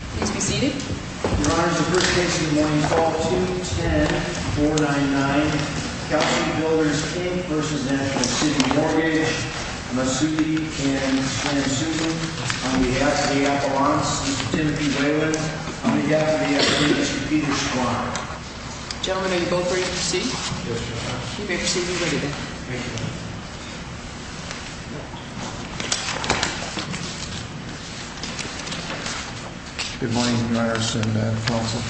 Please be seated. Your Honor, it's the first case of the morning, Fall 210-499, Kalsi Builders v. National City Mortgage. Masoudi and Fran Susan, on behalf of the Appellants, Timothy Wayland, on behalf of the Appellants, Peter Schwan. Gentlemen, are you both ready to proceed? Yes, Your Honor. You may proceed when ready. Thank you. Good morning, Your Honors and Counsel.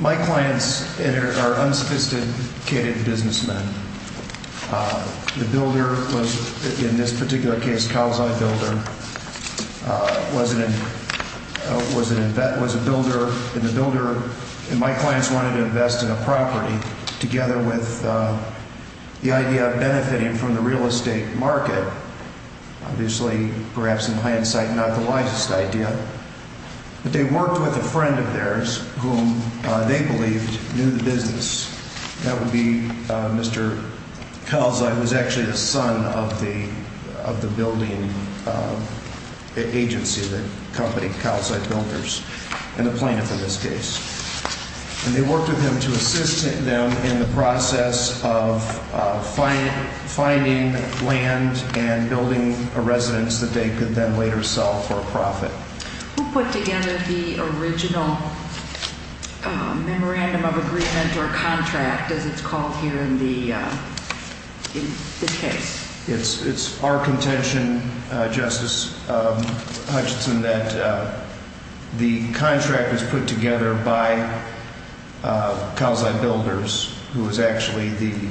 My clients are unsophisticated businessmen. The builder was, in this particular case, Kalsi Builder, was a builder. And the builder and my clients wanted to invest in a property together with the idea of benefiting from the real estate market. Obviously, perhaps in hindsight, not the wisest idea. But they worked with a friend of theirs, whom they believed knew the business. That would be Mr. Kalsi, who was actually the son of the building agency that accompanied Kalsi Builders, and the plaintiff in this case. And they worked with him to assist them in the process of finding land and building a residence that they could then later sell for a profit. Who put together the original memorandum of agreement or contract, as it's called here in this case? It's our contention, Justice Hutchinson, that the contract was put together by Kalsi Builders, who was actually the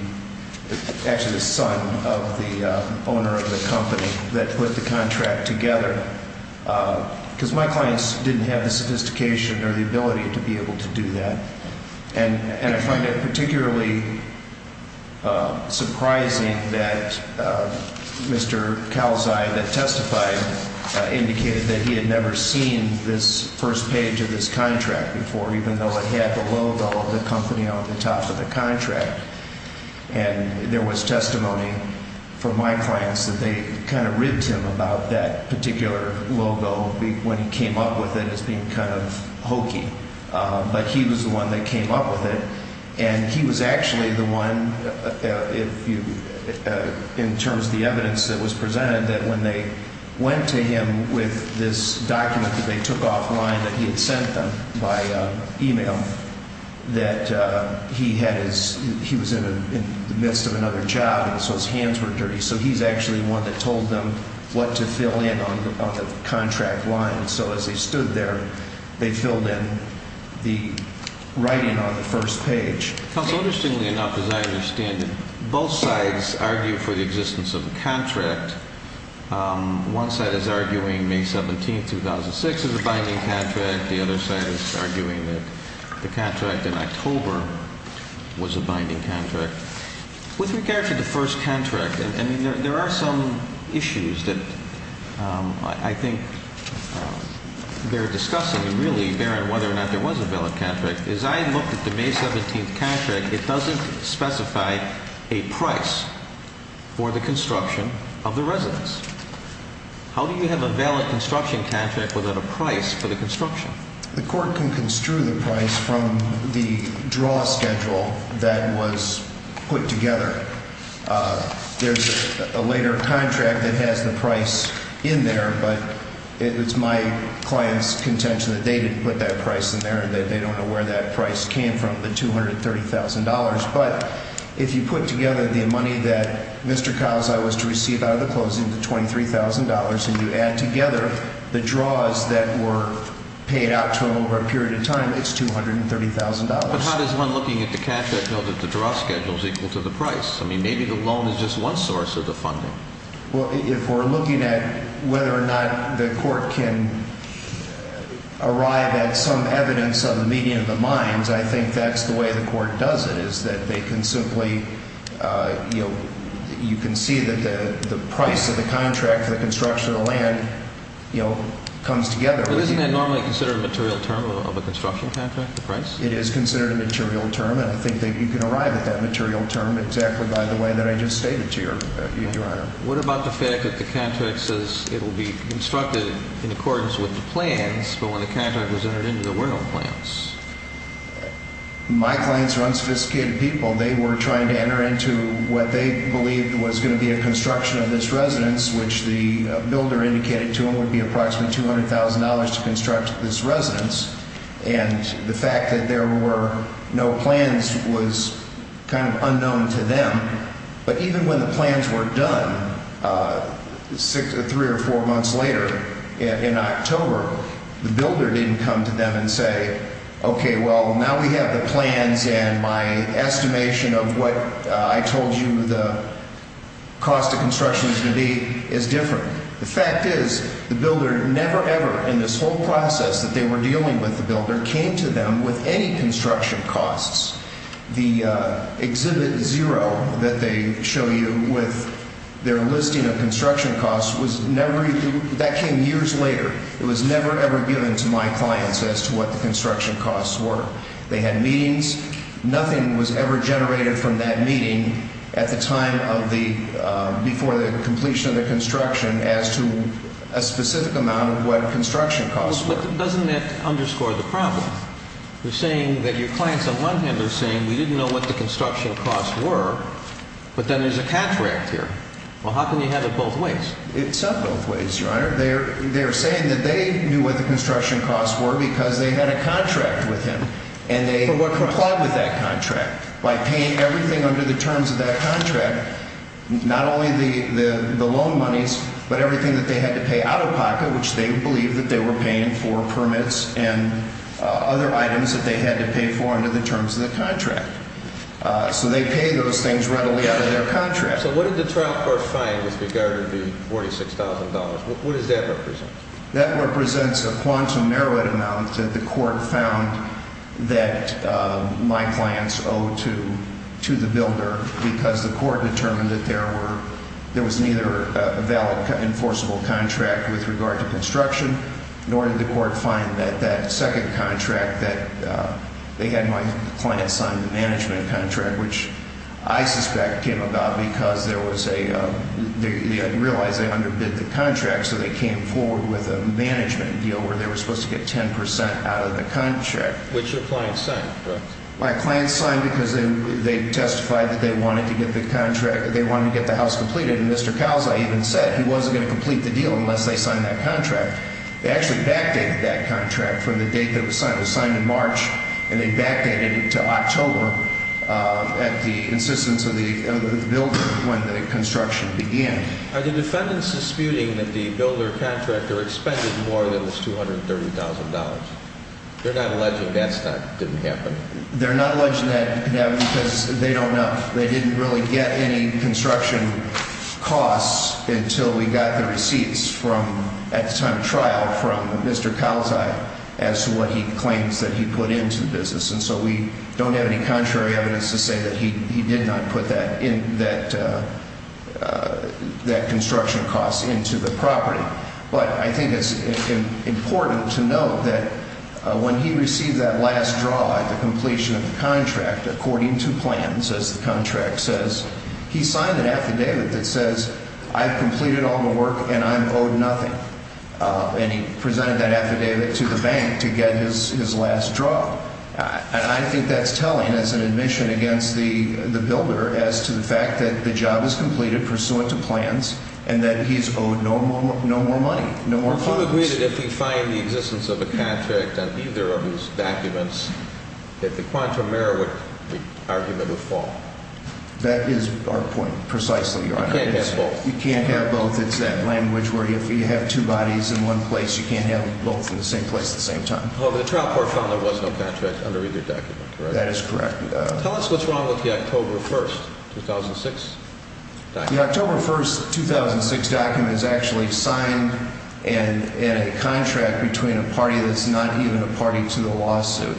son of the owner of the company that put the contract together. Because my clients didn't have the sophistication or the ability to be able to do that. And I find it particularly surprising that Mr. Kalsi that testified indicated that he had never seen this first page of this contract before, even though it had the logo of the company on the top of the contract. And there was testimony from my clients that they kind of rigged him about that particular logo when he came up with it as being kind of hokey. But he was the one that came up with it. And he was actually the one, in terms of the evidence that was presented, that when they went to him with this document that they took offline that he had sent them by e-mail, that he was in the midst of another job. And so his hands were dirty. So he's actually the one that told them what to fill in on the contract line. And so as he stood there, they filled in the writing on the first page. Counsel, interestingly enough, as I understand it, both sides argue for the existence of a contract. One side is arguing May 17, 2006, as a binding contract. The other side is arguing that the contract in October was a binding contract. With regard to the first contract, I mean, there are some issues that I think they're discussing. And really, bearing whether or not there was a valid contract, as I looked at the May 17th contract, it doesn't specify a price for the construction of the residence. How do you have a valid construction contract without a price for the construction? The court can construe the price from the draw schedule that was put together. There's a later contract that has the price in there, but it's my client's contention that they didn't put that price in there and that they don't know where that price came from, the $230,000. But if you put together the money that Mr. Calzai was to receive out of the closing, the $23,000, and you add together the draws that were paid out to him over a period of time, it's $230,000. But how does one, looking at the cash, know that the draw schedule is equal to the price? I mean, maybe the loan is just one source of the funding. Well, if we're looking at whether or not the court can arrive at some evidence of the meeting of the minds, I think that's the way the court does it, is that they can simply – you can see that the price of the contract for the construction of the land comes together. But isn't that normally considered a material term of a construction contract, the price? It is considered a material term, and I think that you can arrive at that material term exactly by the way that I just stated to you, Your Honor. What about the fact that the contract says it will be constructed in accordance with the plans, but when the contract was entered into, there were no plans? My clients are unsophisticated people. They were trying to enter into what they believed was going to be a construction of this residence, which the builder indicated to them would be approximately $200,000 to construct this residence, and the fact that there were no plans was kind of unknown to them. But even when the plans were done, three or four months later, in October, the builder didn't come to them and say, okay, well, now we have the plans, and my estimation of what I told you the cost of construction is going to be is different. The fact is the builder never, ever in this whole process that they were dealing with the builder came to them with any construction costs. The Exhibit 0 that they show you with their listing of construction costs was never – that came years later. It was never, ever given to my clients as to what the construction costs were. They had meetings. Nothing was ever generated from that meeting at the time of the – before the completion of the construction as to a specific amount of what construction costs were. But doesn't that underscore the problem? You're saying that your clients on one hand are saying we didn't know what the construction costs were, but then there's a contract here. Well, how can you have it both ways? It's not both ways, Your Honor. They're saying that they knew what the construction costs were because they had a contract with him. For what? And they complied with that contract by paying everything under the terms of that contract, not only the loan monies, but everything that they had to pay out-of-pocket, which they believed that they were paying for permits and other items that they had to pay for under the terms of the contract. So they pay those things readily out of their contract. So what did the trial court find with regard to the $46,000? What does that represent? That represents a quantum merit amount that the court found that my clients owed to the builder because the court determined that there were – there was neither a valid enforceable contract with regard to construction, nor did the court find that that second contract that – they had my client sign the management contract, which I suspect came about because there was a – they realized they underbid the contract. So they came forward with a management deal where they were supposed to get 10 percent out of the contract. Which your client signed, correct? My client signed because they testified that they wanted to get the contract – they wanted to get the house completed. And Mr. Calzai even said he wasn't going to complete the deal unless they signed that contract. They actually backdated that contract from the date that it was signed. It was signed in March, and they backdated it to October at the insistence of the builder when the construction began. Are the defendants disputing that the builder contractor expended more than this $230,000? They're not alleging that didn't happen. They're not alleging that didn't happen because they don't know. They didn't really get any construction costs until we got the receipts from – at the time of trial from Mr. Calzai as to what he claims that he put into the business. And so we don't have any contrary evidence to say that he did not put that construction cost into the property. But I think it's important to note that when he received that last draw at the completion of the contract, according to plans, as the contract says, he signed an affidavit that says I've completed all the work and I'm owed nothing. And he presented that affidavit to the bank to get his last draw. And I think that's telling as an admission against the builder as to the fact that the job is completed pursuant to plans and that he's owed no more money, no more funds. Would you agree that if he fined the existence of a contract on either of his documents that the quantum error would – the argument would fall? That is our point precisely, Your Honor. You can't have both. You can't have both. It's that language where if you have two bodies in one place, you can't have both in the same place at the same time. However, the trial court found there was no contract under either document, correct? That is correct, Your Honor. Tell us what's wrong with the October 1st, 2006 document. The October 1st, 2006 document is actually signed in a contract between a party that's not even a party to the lawsuit.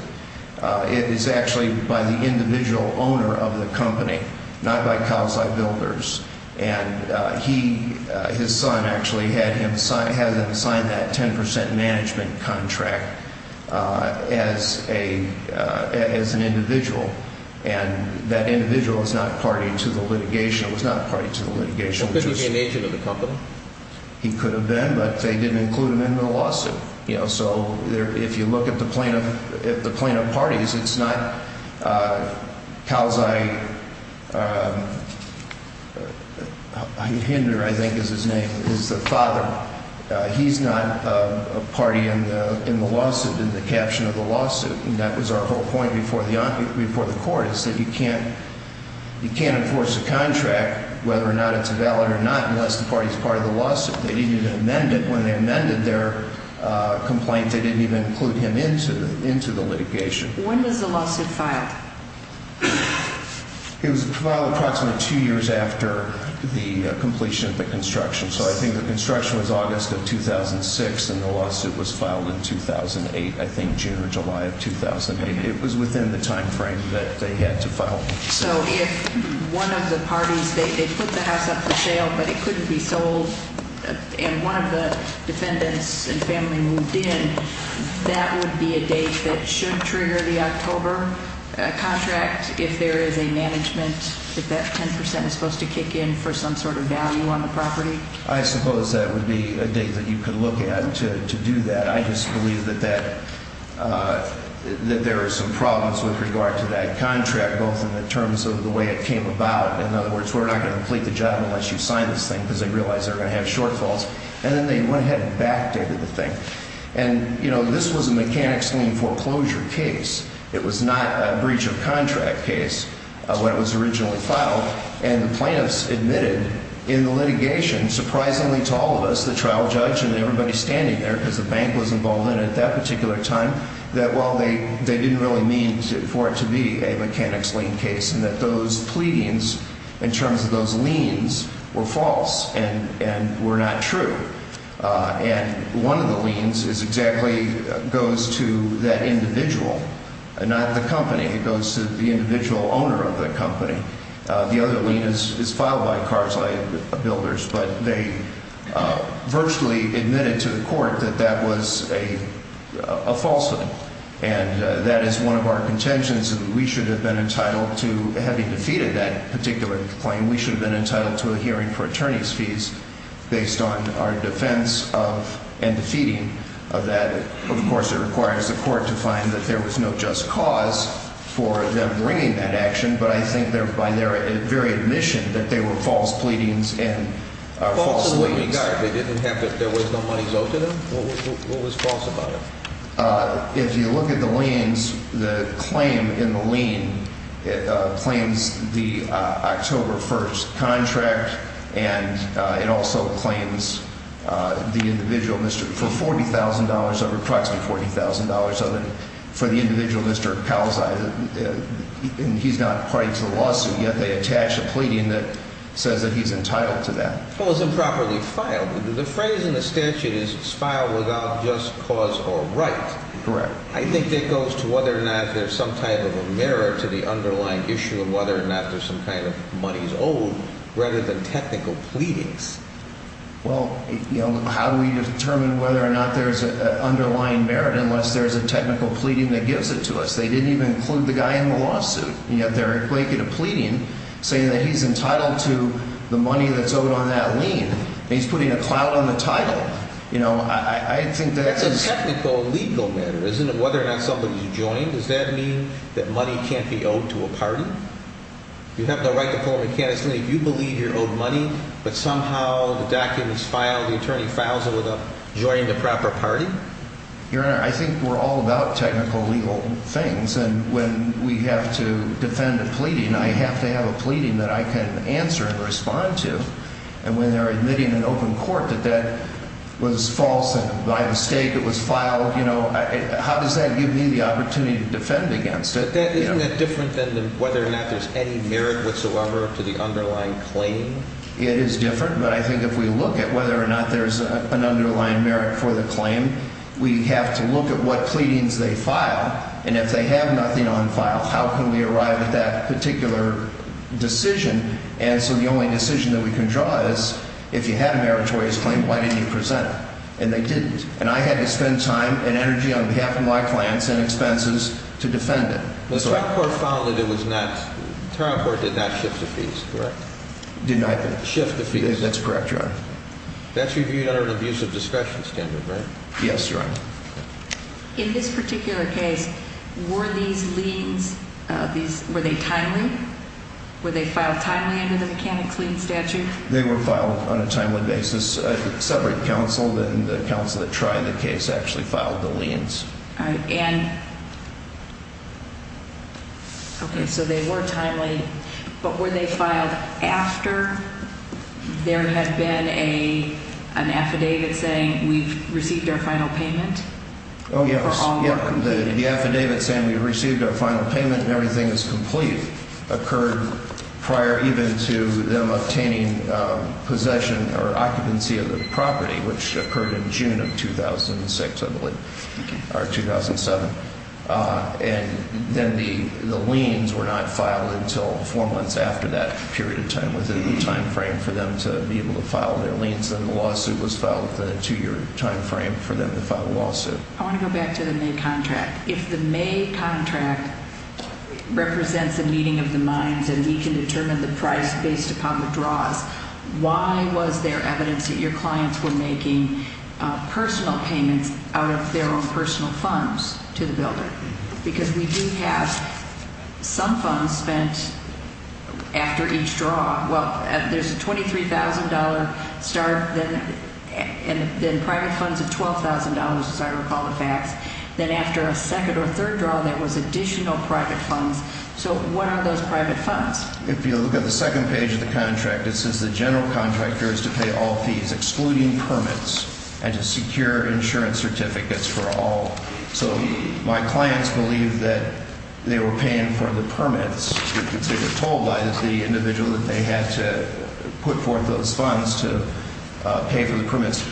It is actually by the individual owner of the company, not by Kawasaki Builders. And he – his son actually had him – had him sign that 10 percent management contract as a – as an individual. And that individual is not a party to the litigation. It was not a party to the litigation. Couldn't he be an agent of the company? He could have been, but they didn't include him in the lawsuit. You know, so if you look at the plaintiff – at the plaintiff parties, it's not Kawasaki – Hinder, I think, is his name, is the father. He's not a party in the – in the lawsuit, in the caption of the lawsuit. And that was our whole point before the – before the court is that you can't – you can't enforce a contract whether or not it's valid or not unless the party is part of the lawsuit. They didn't even amend it. When they amended their complaint, they didn't even include him into – into the litigation. When was the lawsuit filed? It was filed approximately two years after the completion of the construction. So I think the construction was August of 2006, and the lawsuit was filed in 2008, I think, June or July of 2008. It was within the timeframe that they had to file. So if one of the parties – they put the house up for sale, but it couldn't be sold, and one of the defendants and family moved in, that would be a date that should trigger the October contract if there is a management – if that 10 percent is supposed to kick in for some sort of value on the property? I suppose that would be a date that you could look at to do that. I just believe that that – that there are some problems with regard to that contract, both in the terms of the way it came about. In other words, we're not going to complete the job unless you sign this thing because they realize they're going to have shortfalls. And then they went ahead and backdated the thing. And, you know, this was a mechanic's lien foreclosure case. It was not a breach of contract case when it was originally filed. And the plaintiffs admitted in the litigation, surprisingly to all of us, the trial judge and everybody standing there because the bank was involved in it at that particular time, that while they didn't really mean for it to be a mechanic's lien case and that those pleadings in terms of those liens were false and were not true. And one of the liens is exactly – goes to that individual, not the company. It goes to the individual owner of the company. The other lien is filed by car side builders. But they virtually admitted to the court that that was a false lien. And that is one of our contentions, that we should have been entitled to – having defeated that particular claim, we should have been entitled to a hearing for attorney's fees based on our defense of and defeating of that. Of course, it requires the court to find that there was no just cause for them bringing that action. But I think they're – by their very admission that they were false pleadings and false liens. False in what regard? They didn't have – there was no money owed to them? What was false about it? If you look at the liens, the claim in the lien claims the October 1st contract, and it also claims the individual – for $40,000, approximately $40,000 of it, for the individual, Mr. Palzai. And he's not party to the lawsuit, yet they attach a pleading that says that he's entitled to that. Well, it's improperly filed. The phrase in the statute is filed without just cause or right. Correct. I think it goes to whether or not there's some type of a merit to the underlying issue of whether or not there's some kind of money is owed rather than technical pleadings. Well, how do we determine whether or not there's an underlying merit unless there's a technical pleading that gives it to us? They didn't even include the guy in the lawsuit. Yet they're equating a pleading saying that he's entitled to the money that's owed on that lien. He's putting a cloud on the title. You know, I think that's – It's a technical legal matter, isn't it, whether or not somebody's joined? Does that mean that money can't be owed to a party? You have the right to pull a mechanism if you believe you're owed money, but somehow the document's filed, the attorney files it without joining the proper party? Your Honor, I think we're all about technical legal things. And when we have to defend a pleading, I have to have a pleading that I can answer and respond to. And when they're admitting in open court that that was false and by mistake it was filed, you know, how does that give me the opportunity to defend against it? Isn't that different than whether or not there's any merit whatsoever to the underlying claim? It is different, but I think if we look at whether or not there's an underlying merit for the claim, we have to look at what pleadings they file. And if they have nothing on file, how can we arrive at that particular decision? And so the only decision that we can draw is if you have a meritorious claim, why didn't you present it? And they didn't. And I had to spend time and energy on behalf of my clients and expenses to defend it. The trial court found that it was not – the trial court did not shift the fees, correct? Did not – Shift the fees. That's correct, Your Honor. Yes, Your Honor. In this particular case, were these liens – were they timely? Were they filed timely under the mechanics lien statute? They were filed on a timely basis. A separate counsel, then the counsel that tried the case actually filed the liens. And – okay, so they were timely, but were they filed after there had been an affidavit saying we've received our final payment? Oh, yes. For ongoing payment. The affidavit saying we've received our final payment and everything is complete occurred prior even to them obtaining possession or occupancy of the property, which occurred in June of 2006, I believe, or 2007. And then the liens were not filed until four months after that period of time within the time frame for them to be able to file their liens. Then the lawsuit was filed within a two-year time frame for them to file a lawsuit. I want to go back to the May contract. If the May contract represents a meeting of the minds and we can determine the price based upon the draws, why was there evidence that your clients were making personal payments out of their own personal funds to the builder? Because we do have some funds spent after each draw. Well, there's a $23,000 start, then private funds of $12,000, as I recall the facts. Then after a second or third draw, there was additional private funds. So what are those private funds? If you look at the second page of the contract, it says the general contractor is to pay all fees, excluding permits, and to secure insurance certificates for all. So my clients believed that they were paying for the permits because they were told by the individual that they had to put forth those funds to pay for the permits.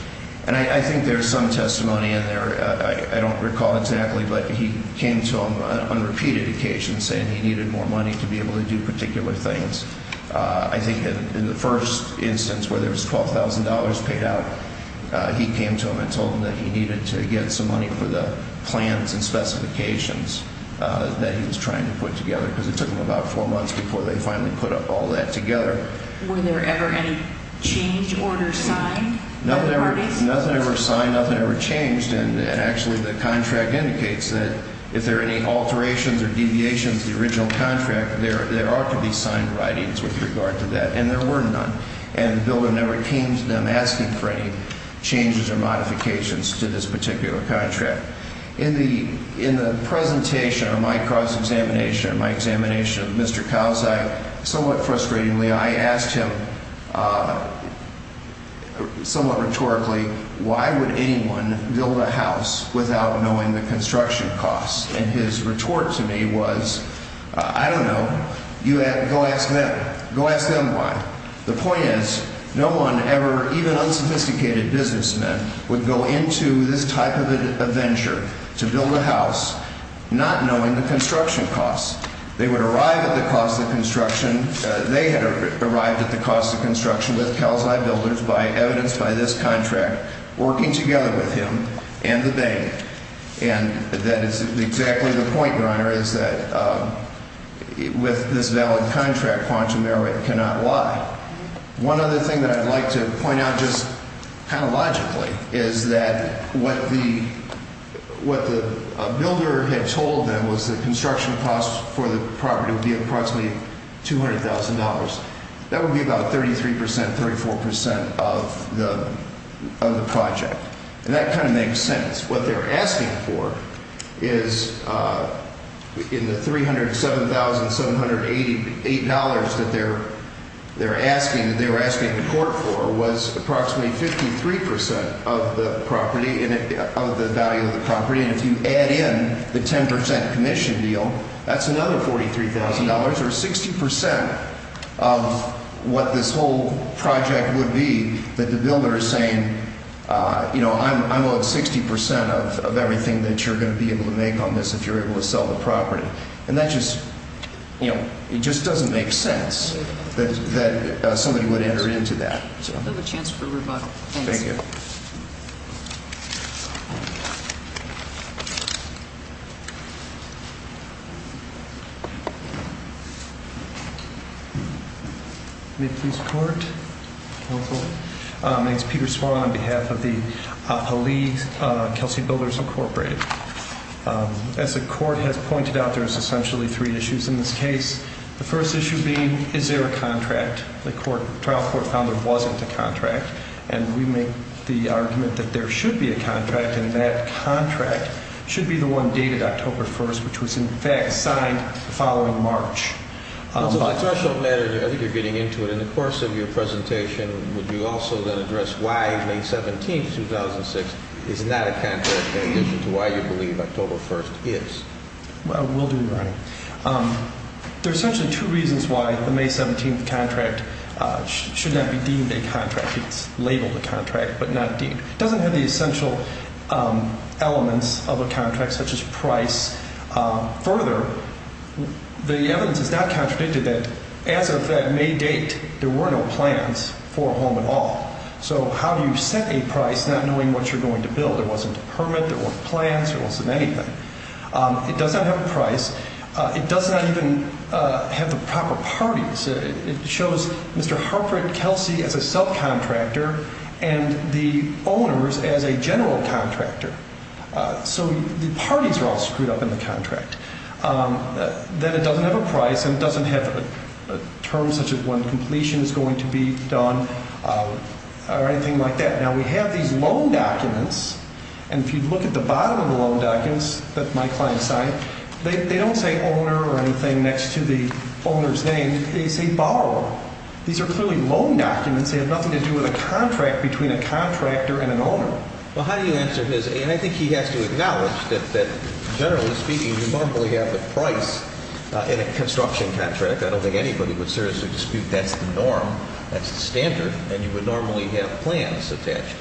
And I think there's some testimony in there. I don't recall exactly, but he came to them on repeated occasions saying he needed more money to be able to do particular things. I think in the first instance where there was $12,000 paid out, he came to them and told them that he needed to get some money for the plans and specifications that he was trying to put together, because it took them about four months before they finally put all that together. Were there ever any change orders signed? Nothing ever signed. Nothing ever changed. And actually, the contract indicates that if there are any alterations or deviations to the original contract, there are to be signed writings with regard to that, and there were none. And the builder never came to them asking for any changes or modifications to this particular contract. In the presentation of my cross-examination and my examination of Mr. Kauzai, somewhat frustratingly, I asked him somewhat rhetorically, why would anyone build a house without knowing the construction costs? And his retort to me was, I don't know, go ask them why. The point is, no one ever, even unsophisticated businessmen, would go into this type of a venture to build a house not knowing the construction costs. They would arrive at the cost of construction. They had arrived at the cost of construction with Kauzai Builders, evidenced by this contract, working together with him and the bank. And that is exactly the point, Your Honor, is that with this valid contract, quantum merit cannot lie. One other thing that I'd like to point out, just kind of logically, is that what the builder had told them was the construction costs for the property would be approximately $200,000. That would be about 33 percent, 34 percent of the project. And that kind of makes sense. What they're asking for is, in the $307,788 that they're asking, that they were asking the court for, was approximately 53 percent of the property, of the value of the property. And if you add in the 10 percent commission deal, that's another $43,000, or 60 percent of what this whole project would be that the builder is saying, you know, I'm owed 60 percent of everything that you're going to be able to make on this if you're able to sell the property. And that just, you know, it just doesn't make sense that somebody would enter into that. We have a chance for rebuttal. Thank you. Thank you. May it please the Court. Counsel. My name's Peter Swann on behalf of the Lee Kelsey Builders Incorporated. As the Court has pointed out, there's essentially three issues in this case. The first issue being, is there a contract? The trial court found there wasn't a contract. And we make the argument that there should be a contract, and that contract should be the one dated October 1st, which was, in fact, signed the following March. Counsel, as a threshold matter, I think you're getting into it. In the course of your presentation, would you also then address why May 17th, 2006, is not a contract in addition to why you believe October 1st is? I will do, Your Honor. There's essentially two reasons why the May 17th contract should not be deemed a contract. It's labeled a contract but not deemed. It doesn't have the essential elements of a contract such as price. Further, the evidence is not contradicted that as of that May date, there were no plans for a home at all. So how do you set a price not knowing what you're going to build? There wasn't a permit. There weren't plans. There wasn't anything. It does not have a price. It does not even have the proper parties. It shows Mr. Harper and Kelsey as a subcontractor and the owners as a general contractor. So the parties are all screwed up in the contract. Then it doesn't have a price and it doesn't have a term such as when completion is going to be done or anything like that. Now, we have these loan documents, and if you look at the bottom of the loan documents that my client signed, they don't say owner or anything next to the owner's name. They say borrower. These are clearly loan documents. They have nothing to do with a contract between a contractor and an owner. Well, how do you answer his? And I think he has to acknowledge that generally speaking, you normally have the price in a construction contract. I don't think anybody would seriously dispute that's the norm, that's the standard, and you would normally have plans attached.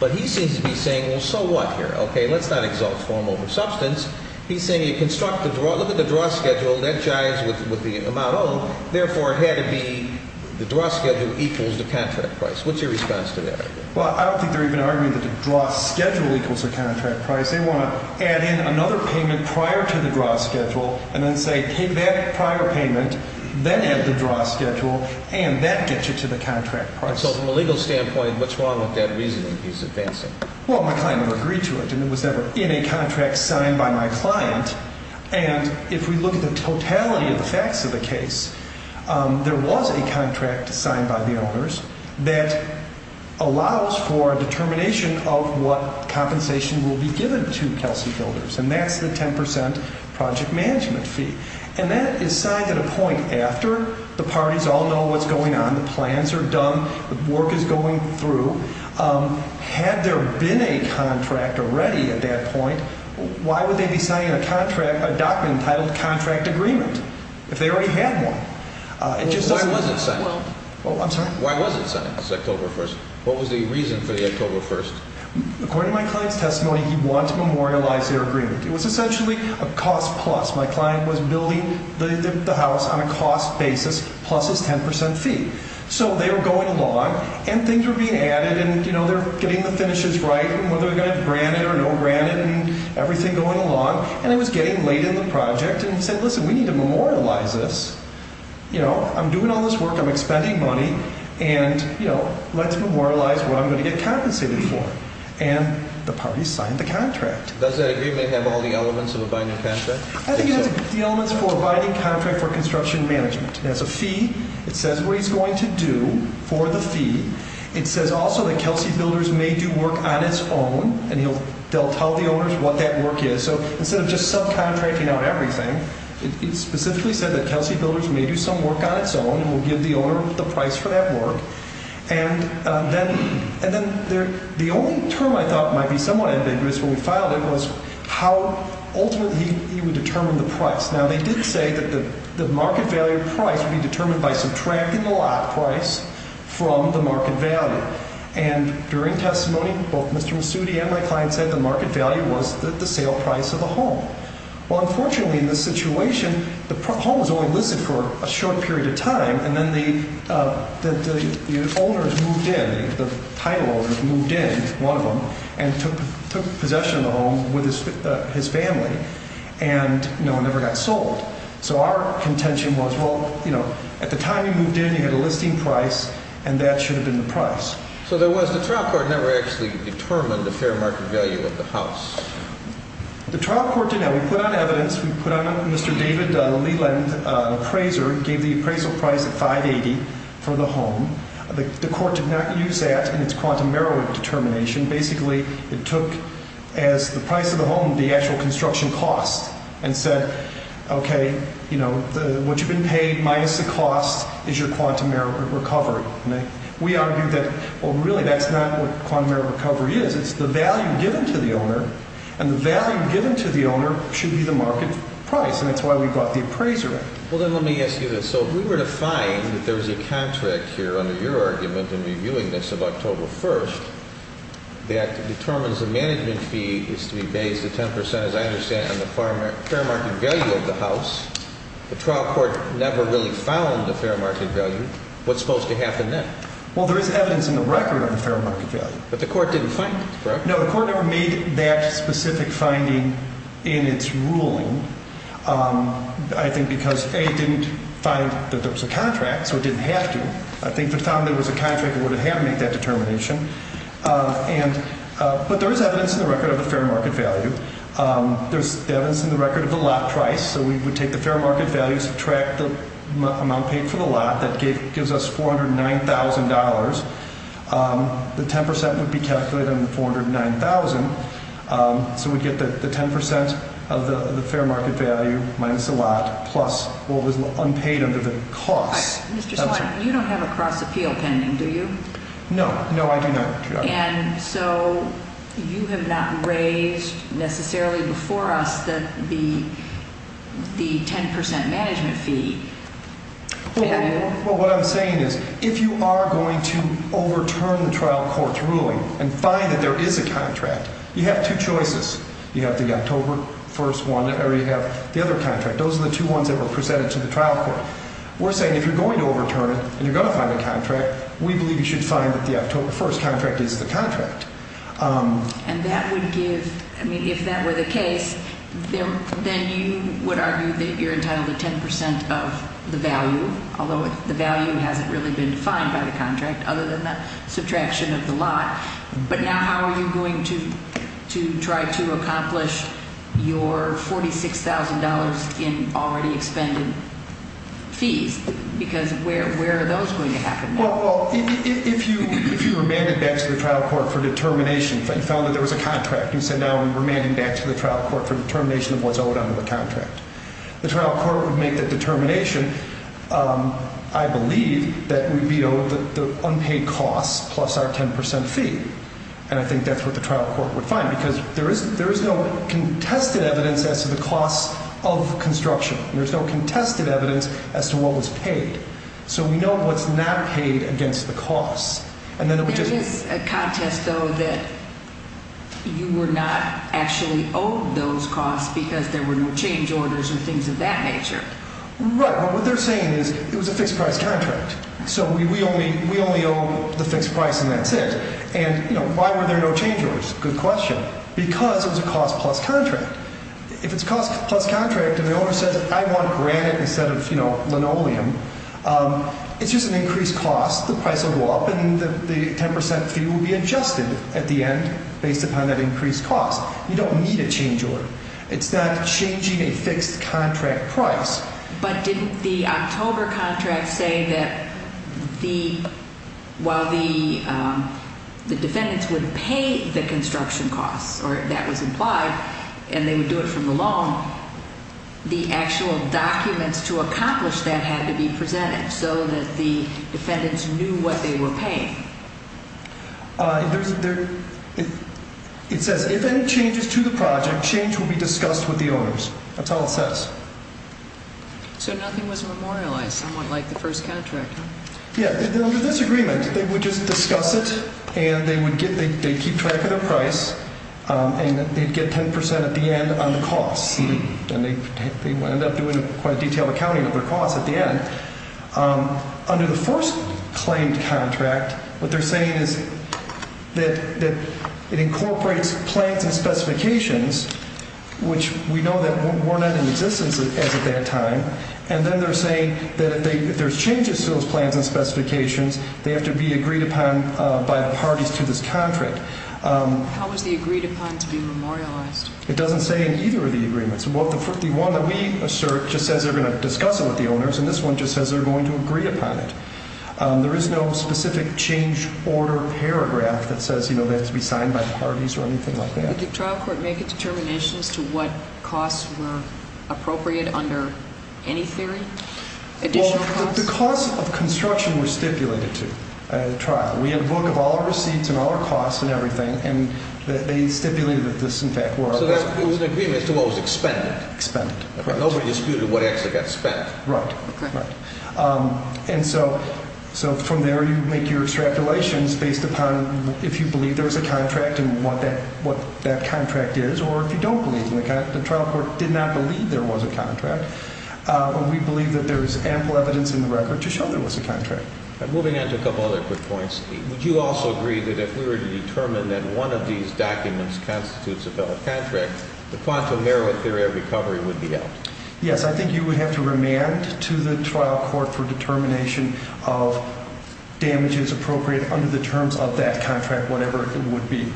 But he seems to be saying, well, so what here? Okay, let's not exalt form over substance. He's saying you construct the draw. Look at the draw schedule. That jives with the amount owed. Therefore, it had to be the draw schedule equals the contract price. What's your response to that argument? Well, I don't think they're even arguing that the draw schedule equals the contract price. They want to add in another payment prior to the draw schedule and then say take that prior payment, then add the draw schedule, and that gets you to the contract price. So from a legal standpoint, what's wrong with that reasoning he's advancing? Well, my client would agree to it, and it was never in a contract signed by my client. And if we look at the totality of the facts of the case, there was a contract signed by the owners that allows for a determination of what compensation will be given to Kelsey Builders, and that's the 10 percent project management fee. And that is signed at a point after the parties all know what's going on, the plans are done, the work is going through. Had there been a contract already at that point, why would they be signing a contract, a document entitled contract agreement if they already had one? Why was it signed? I'm sorry? Why was it signed? It's October 1st. What was the reason for the October 1st? According to my client's testimony, he wanted to memorialize their agreement. It was essentially a cost plus. My client was building the house on a cost basis plus his 10 percent fee. So they were going along, and things were being added, and, you know, they're getting the finishes right, and whether they're going to have granite or no granite and everything going along. And it was getting late in the project, and he said, listen, we need to memorialize this. You know, I'm doing all this work, I'm expending money, and, you know, let's memorialize what I'm going to get compensated for. And the parties signed the contract. Does that agreement have all the elements of a binding contract? I think it has the elements for a binding contract for construction management. It has a fee. It says what he's going to do for the fee. It says also that Kelsey Builders may do work on its own, and they'll tell the owners what that work is. So instead of just subcontracting out everything, it specifically said that Kelsey Builders may do some work on its own and will give the owner the price for that work. And then the only term I thought might be somewhat ambiguous when we filed it was how ultimately he would determine the price. Now, they did say that the market value price would be determined by subtracting the lot price from the market value. And during testimony, both Mr. Masudi and my client said the market value was the sale price of the home. Well, unfortunately, in this situation, the home was only listed for a short period of time, and then the owners moved in, the title owners moved in, one of them, and took possession of the home with his family and, you know, it never got sold. So our contention was, well, you know, at the time you moved in, you had a listing price, and that should have been the price. So there was the trial court never actually determined the fair market value of the house. The trial court did not. We put on evidence. We put on Mr. David Leland, appraiser, gave the appraisal price at 580 for the home. The court did not use that in its quantum merit determination. Basically, it took as the price of the home the actual construction cost and said, okay, you know, what you've been paid minus the cost is your quantum merit recovery. We argued that, well, really that's not what quantum merit recovery is. It's the value given to the owner, and the value given to the owner should be the market price, and that's why we brought the appraiser in. Well, then let me ask you this. So if we were to find that there was a contract here under your argument in reviewing this of October 1st that determines the management fee is to be based at 10 percent, as I understand it, on the fair market value of the house, the trial court never really found the fair market value. What's supposed to happen then? Well, there is evidence in the record on fair market value. But the court didn't find it, correct? No, the court never made that specific finding in its ruling. I think because, A, it didn't find that there was a contract, so it didn't have to. I think if it found there was a contract, it would have had to make that determination. But there is evidence in the record of the fair market value. There's evidence in the record of the lot price, so we would take the fair market value, subtract the amount paid for the lot. That gives us $409,000. The 10 percent would be calculated on the $409,000, so we'd get the 10 percent of the fair market value minus the lot plus what was unpaid under the costs. Mr. Swann, you don't have a cross-appeal pending, do you? No, no, I do not, Your Honor. And so you have not raised necessarily before us the 10 percent management fee. Well, what I'm saying is if you are going to overturn the trial court's ruling and find that there is a contract, you have two choices. You have the October 1st one or you have the other contract. Those are the two ones that were presented to the trial court. We're saying if you're going to overturn it and you're going to find a contract, we believe you should find that the October 1st contract is the contract. And that would give – I mean, if that were the case, then you would argue that you're entitled to 10 percent of the value, although the value hasn't really been defined by the contract other than the subtraction of the lot. But now how are you going to try to accomplish your $46,000 in already expended fees? Because where are those going to happen now? Well, if you remanded back to the trial court for determination and found that there was a contract, you said now we're remanding back to the trial court for determination of what's owed under the contract. The trial court would make the determination, I believe, that we'd be owed the unpaid costs plus our 10 percent fee. And I think that's what the trial court would find because there is no contested evidence as to the costs of construction. There's no contested evidence as to what was paid. So we know what's not paid against the costs. There is a contest, though, that you were not actually owed those costs because there were no change orders and things of that nature. Right. But what they're saying is it was a fixed-price contract, so we only owe the fixed price and that's it. And why were there no change orders? Good question. Because it was a cost-plus contract. If it's a cost-plus contract and the owner says, I want granite instead of, you know, linoleum, it's just an increased cost. The price will go up and the 10 percent fee will be adjusted at the end based upon that increased cost. You don't need a change order. It's not changing a fixed-contract price. But didn't the October contract say that while the defendants would pay the construction costs or that was implied and they would do it from the loan, the actual documents to accomplish that had to be presented so that the defendants knew what they were paying? It says, if any changes to the project, change will be discussed with the owners. That's all it says. So nothing was memorialized, somewhat like the first contract, huh? Yeah. Under this agreement, they would just discuss it and they'd keep track of their price and they'd get 10 percent at the end on the costs. And they wound up doing quite a detailed accounting of their costs at the end. Under the first claimed contract, what they're saying is that it incorporates plans and specifications, which we know that were not in existence as of that time. And then they're saying that if there's changes to those plans and specifications, they have to be agreed upon by the parties to this contract. How was the agreed upon to be memorialized? It doesn't say in either of the agreements. The one that we assert just says they're going to discuss it with the owners, and this one just says they're going to agree upon it. There is no specific change order paragraph that says, you know, that it has to be signed by the parties or anything like that. Did the trial court make determinations to what costs were appropriate under any theory, additional costs? Well, the costs of construction were stipulated to at the trial. We had a book of all our receipts and all our costs and everything, and they stipulated that this, in fact, were our costs. So there was an agreement as to what was expended. Expended, correct. Nobody disputed what actually got spent. Right, right. And so from there, you make your extrapolations based upon if you believe there was a contract and what that contract is, or if you don't believe in the contract. The trial court did not believe there was a contract, but we believe that there is ample evidence in the record to show there was a contract. All right. Moving on to a couple other quick points, Steve. Would you also agree that if we were to determine that one of these documents constitutes a failed contract, the quantum merit theory of recovery would be out? Yes. I think you would have to remand to the trial court for determination of damages appropriate under the terms of that contract, whatever it would be.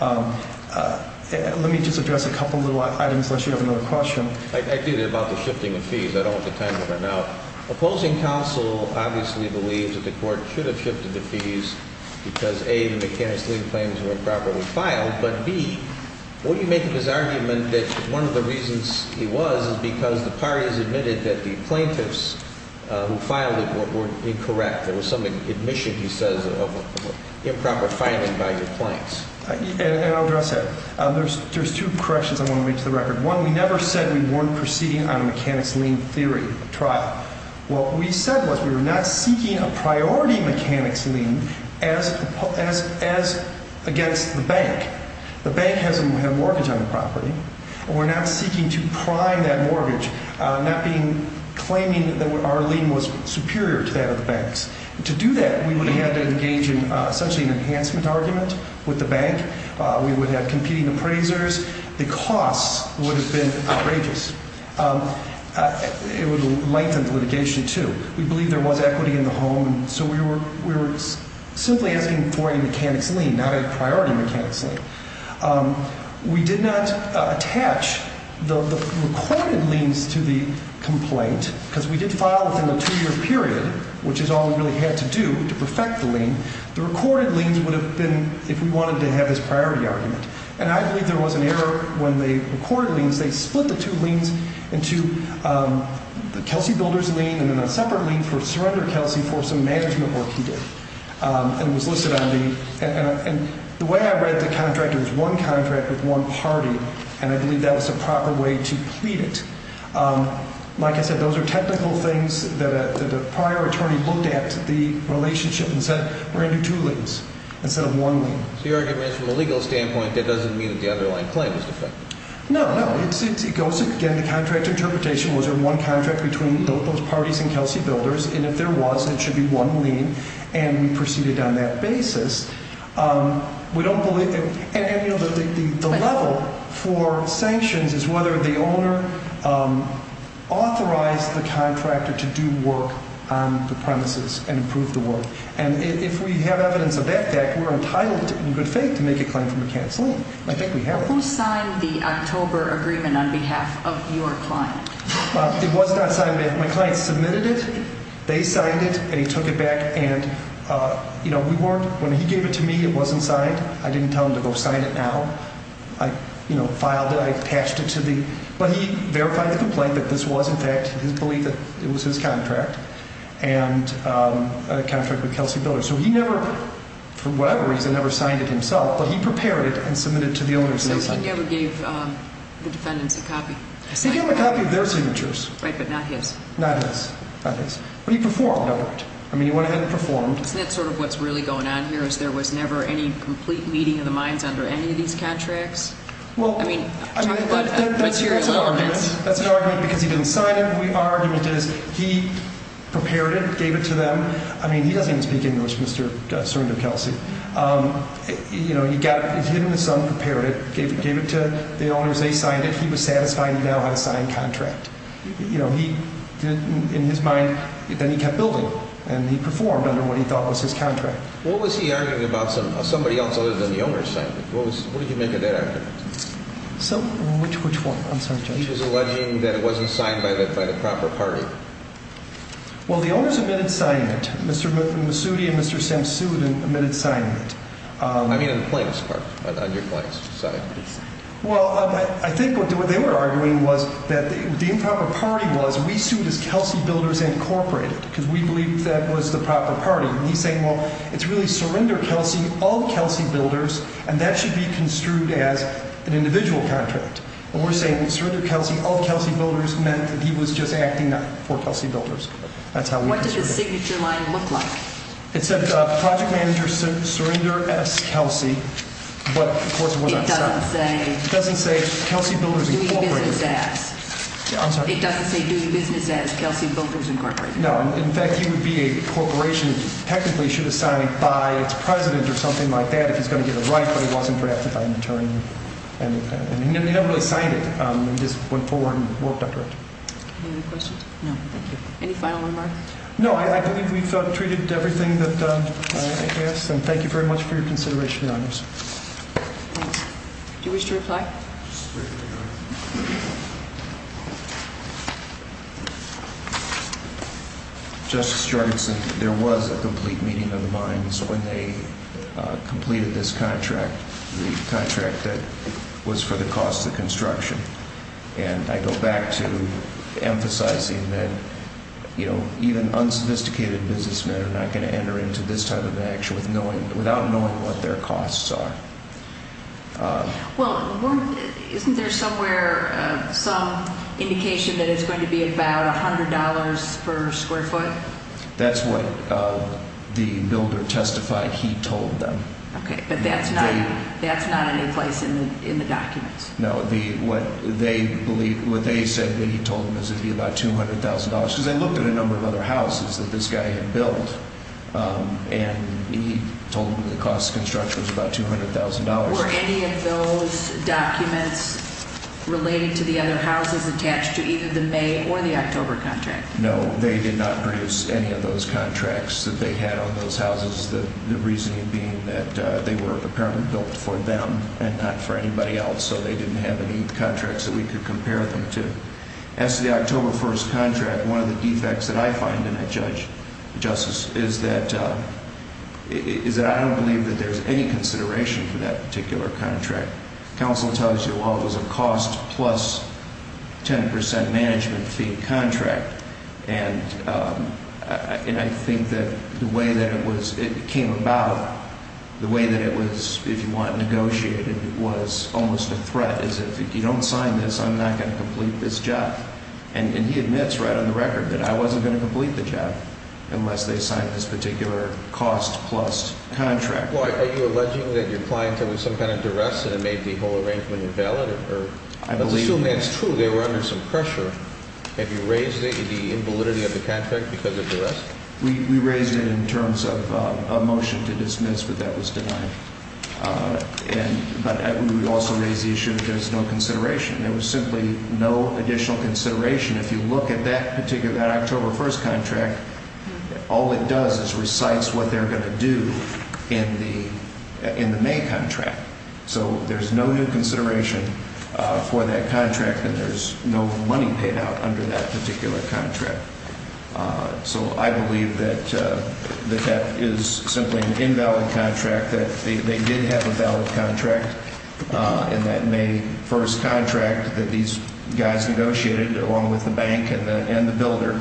Let me just address a couple of little items, unless you have another question. I did, about the shifting of fees. I don't want the time to run out. Opposing counsel obviously believes that the court should have shifted the fees because, A, the mechanics lien claims were improperly filed, but, B, what do you make of his argument that one of the reasons he was is because the parties admitted that the plaintiffs who filed it were incorrect? There was some admission, he says, of improper filing by your clients. And I'll address that. There's two corrections I want to make to the record. One, we never said we weren't proceeding on a mechanics lien theory trial. What we said was we were not seeking a priority mechanics lien as against the bank. The bank has a mortgage on the property. We're not seeking to prime that mortgage, not claiming that our lien was superior to that of the bank's. To do that, we would have had to engage in essentially an enhancement argument with the bank. We would have competing appraisers. The costs would have been outrageous. It would have lengthened litigation, too. We believe there was equity in the home, so we were simply asking for a mechanics lien, not a priority mechanics lien. We did not attach the recorded liens to the complaint because we did file within a two-year period, which is all we really had to do to perfect the lien. The recorded liens would have been if we wanted to have this priority argument. And I believe there was an error when they recorded liens. They split the two liens into Kelsey Builder's lien and then a separate lien for Surrender Kelsey for some management work he did, and it was listed on the lien. And the way I read the contract, it was one contract with one party, and I believe that was the proper way to plead it. Like I said, those are technical things that a prior attorney looked at the relationship and said we're going to do two liens instead of one lien. So your argument is from a legal standpoint that doesn't mean that the underlying claim is defective? No, no. It goes again to contract interpretation. Was there one contract between both those parties and Kelsey Builder's? And if there was, there should be one lien, and we proceeded on that basis. We don't believe it. And, you know, the level for sanctions is whether the owner authorized the contractor to do work on the premises and approve the work. And if we have evidence of that fact, we're entitled in good faith to make a claim from a cancellation. I think we have it. Who signed the October agreement on behalf of your client? It was not signed. My client submitted it. They signed it, and he took it back. And, you know, we weren't – when he gave it to me, it wasn't signed. I didn't tell him to go sign it now. I, you know, filed it. I attached it to the – but he verified the complaint that this was, in fact, his belief that it was his contract. And a contract with Kelsey Builder. So he never, for whatever reason, ever signed it himself, but he prepared it and submitted it to the owners. So he never gave the defendants a copy? He gave them a copy of their signatures. Right, but not his. Not his. Not his. But he performed over it. I mean, he went ahead and performed. Isn't that sort of what's really going on here, is there was never any complete meeting of the minds under any of these contracts? Well, I mean, talk about material elements. That's an argument because he didn't sign it. Our argument is he prepared it, gave it to them. I mean, he doesn't even speak English, Mr. Serndip Kelsey. You know, he got – he and his son prepared it, gave it to the owners. They signed it. He was satisfied. He now had a signed contract. You know, he did – in his mind, then he kept building, and he performed under what he thought was his contract. What was he arguing about somebody else other than the owners signed it? What was – what did he make of that argument? So which one? I'm sorry, Judge. He was alleging that it wasn't signed by the proper party. Well, the owners omitted signing it. Mr. Masudi and Mr. Sims sued and omitted signing it. I mean on the plaintiff's part, on your client's side. Well, I think what they were arguing was that the improper party was we sued as Kelsey Builders Incorporated because we believed that was the proper party. And he's saying, well, it's really Serndip Kelsey of Kelsey Builders, and that should be construed as an individual contract. Well, we're saying Serndip Kelsey of Kelsey Builders meant that he was just acting for Kelsey Builders. That's how we – What did the signature line look like? It said Project Manager Serndip S. Kelsey, but of course it wasn't signed. It doesn't say – It doesn't say Kelsey Builders Incorporated. It doesn't say doing business as Kelsey Builders Incorporated. No. In fact, he would be a corporation that technically should have signed it by its president or something like that if he's going to get it right, but he wasn't drafted by an attorney. And he never really signed it. He just went forward and worked on it. Any other questions? No, thank you. Any final remarks? No, I believe we've treated everything that I asked, and thank you very much for your consideration, Your Honors. Thanks. Do you wish to reply? Just briefly, Your Honor. Justice Jorgenson, there was a complete meeting of the minds when they completed this contract, the contract that was for the cost of construction. And I go back to emphasizing that even unsophisticated businessmen are not going to enter into this type of action without knowing what their costs are. Well, isn't there somewhere some indication that it's going to be about $100 per square foot? That's what the builder testified he told them. Okay, but that's not any place in the documents. No, what they said that he told them is it would be about $200,000 because they looked at a number of other houses that this guy had built, and he told them the cost of construction was about $200,000. Were any of those documents related to the other houses attached to either the May or the October contract? No, they did not produce any of those contracts that they had on those houses, the reasoning being that they were apparently built for them and not for anybody else. So they didn't have any contracts that we could compare them to. As to the October 1st contract, one of the defects that I find in it, Judge Justice, is that I don't believe that there's any consideration for that particular contract. Counsel tells you, well, it was a cost plus 10% management fee contract. And I think that the way that it came about, the way that it was, if you want, negotiated, was almost a threat as if you don't sign this, I'm not going to complete this job. And he admits right on the record that I wasn't going to complete the job unless they signed this particular cost plus contract. Well, are you alleging that your client had some kind of duress and it made the whole arrangement invalid? Let's assume that's true, they were under some pressure. Have you raised the invalidity of the contract because of duress? We raised it in terms of a motion to dismiss, but that was denied. But we would also raise the issue that there's no consideration. There was simply no additional consideration. If you look at that particular, that October 1st contract, all it does is recites what they're going to do in the May contract. So there's no new consideration for that contract and there's no money paid out under that particular contract. So I believe that that is simply an invalid contract, that they did have a valid contract in that May 1st contract that these guys negotiated along with the bank and the builder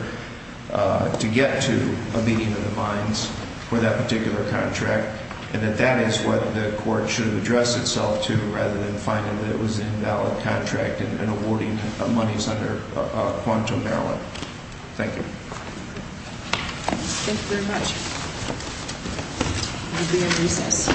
to get to a meeting of the mines for that particular contract, and that that is what the court should address itself to rather than finding that it was an invalid contract and awarding monies under quantum barreling. Thank you. Thank you very much. I'll be in recess.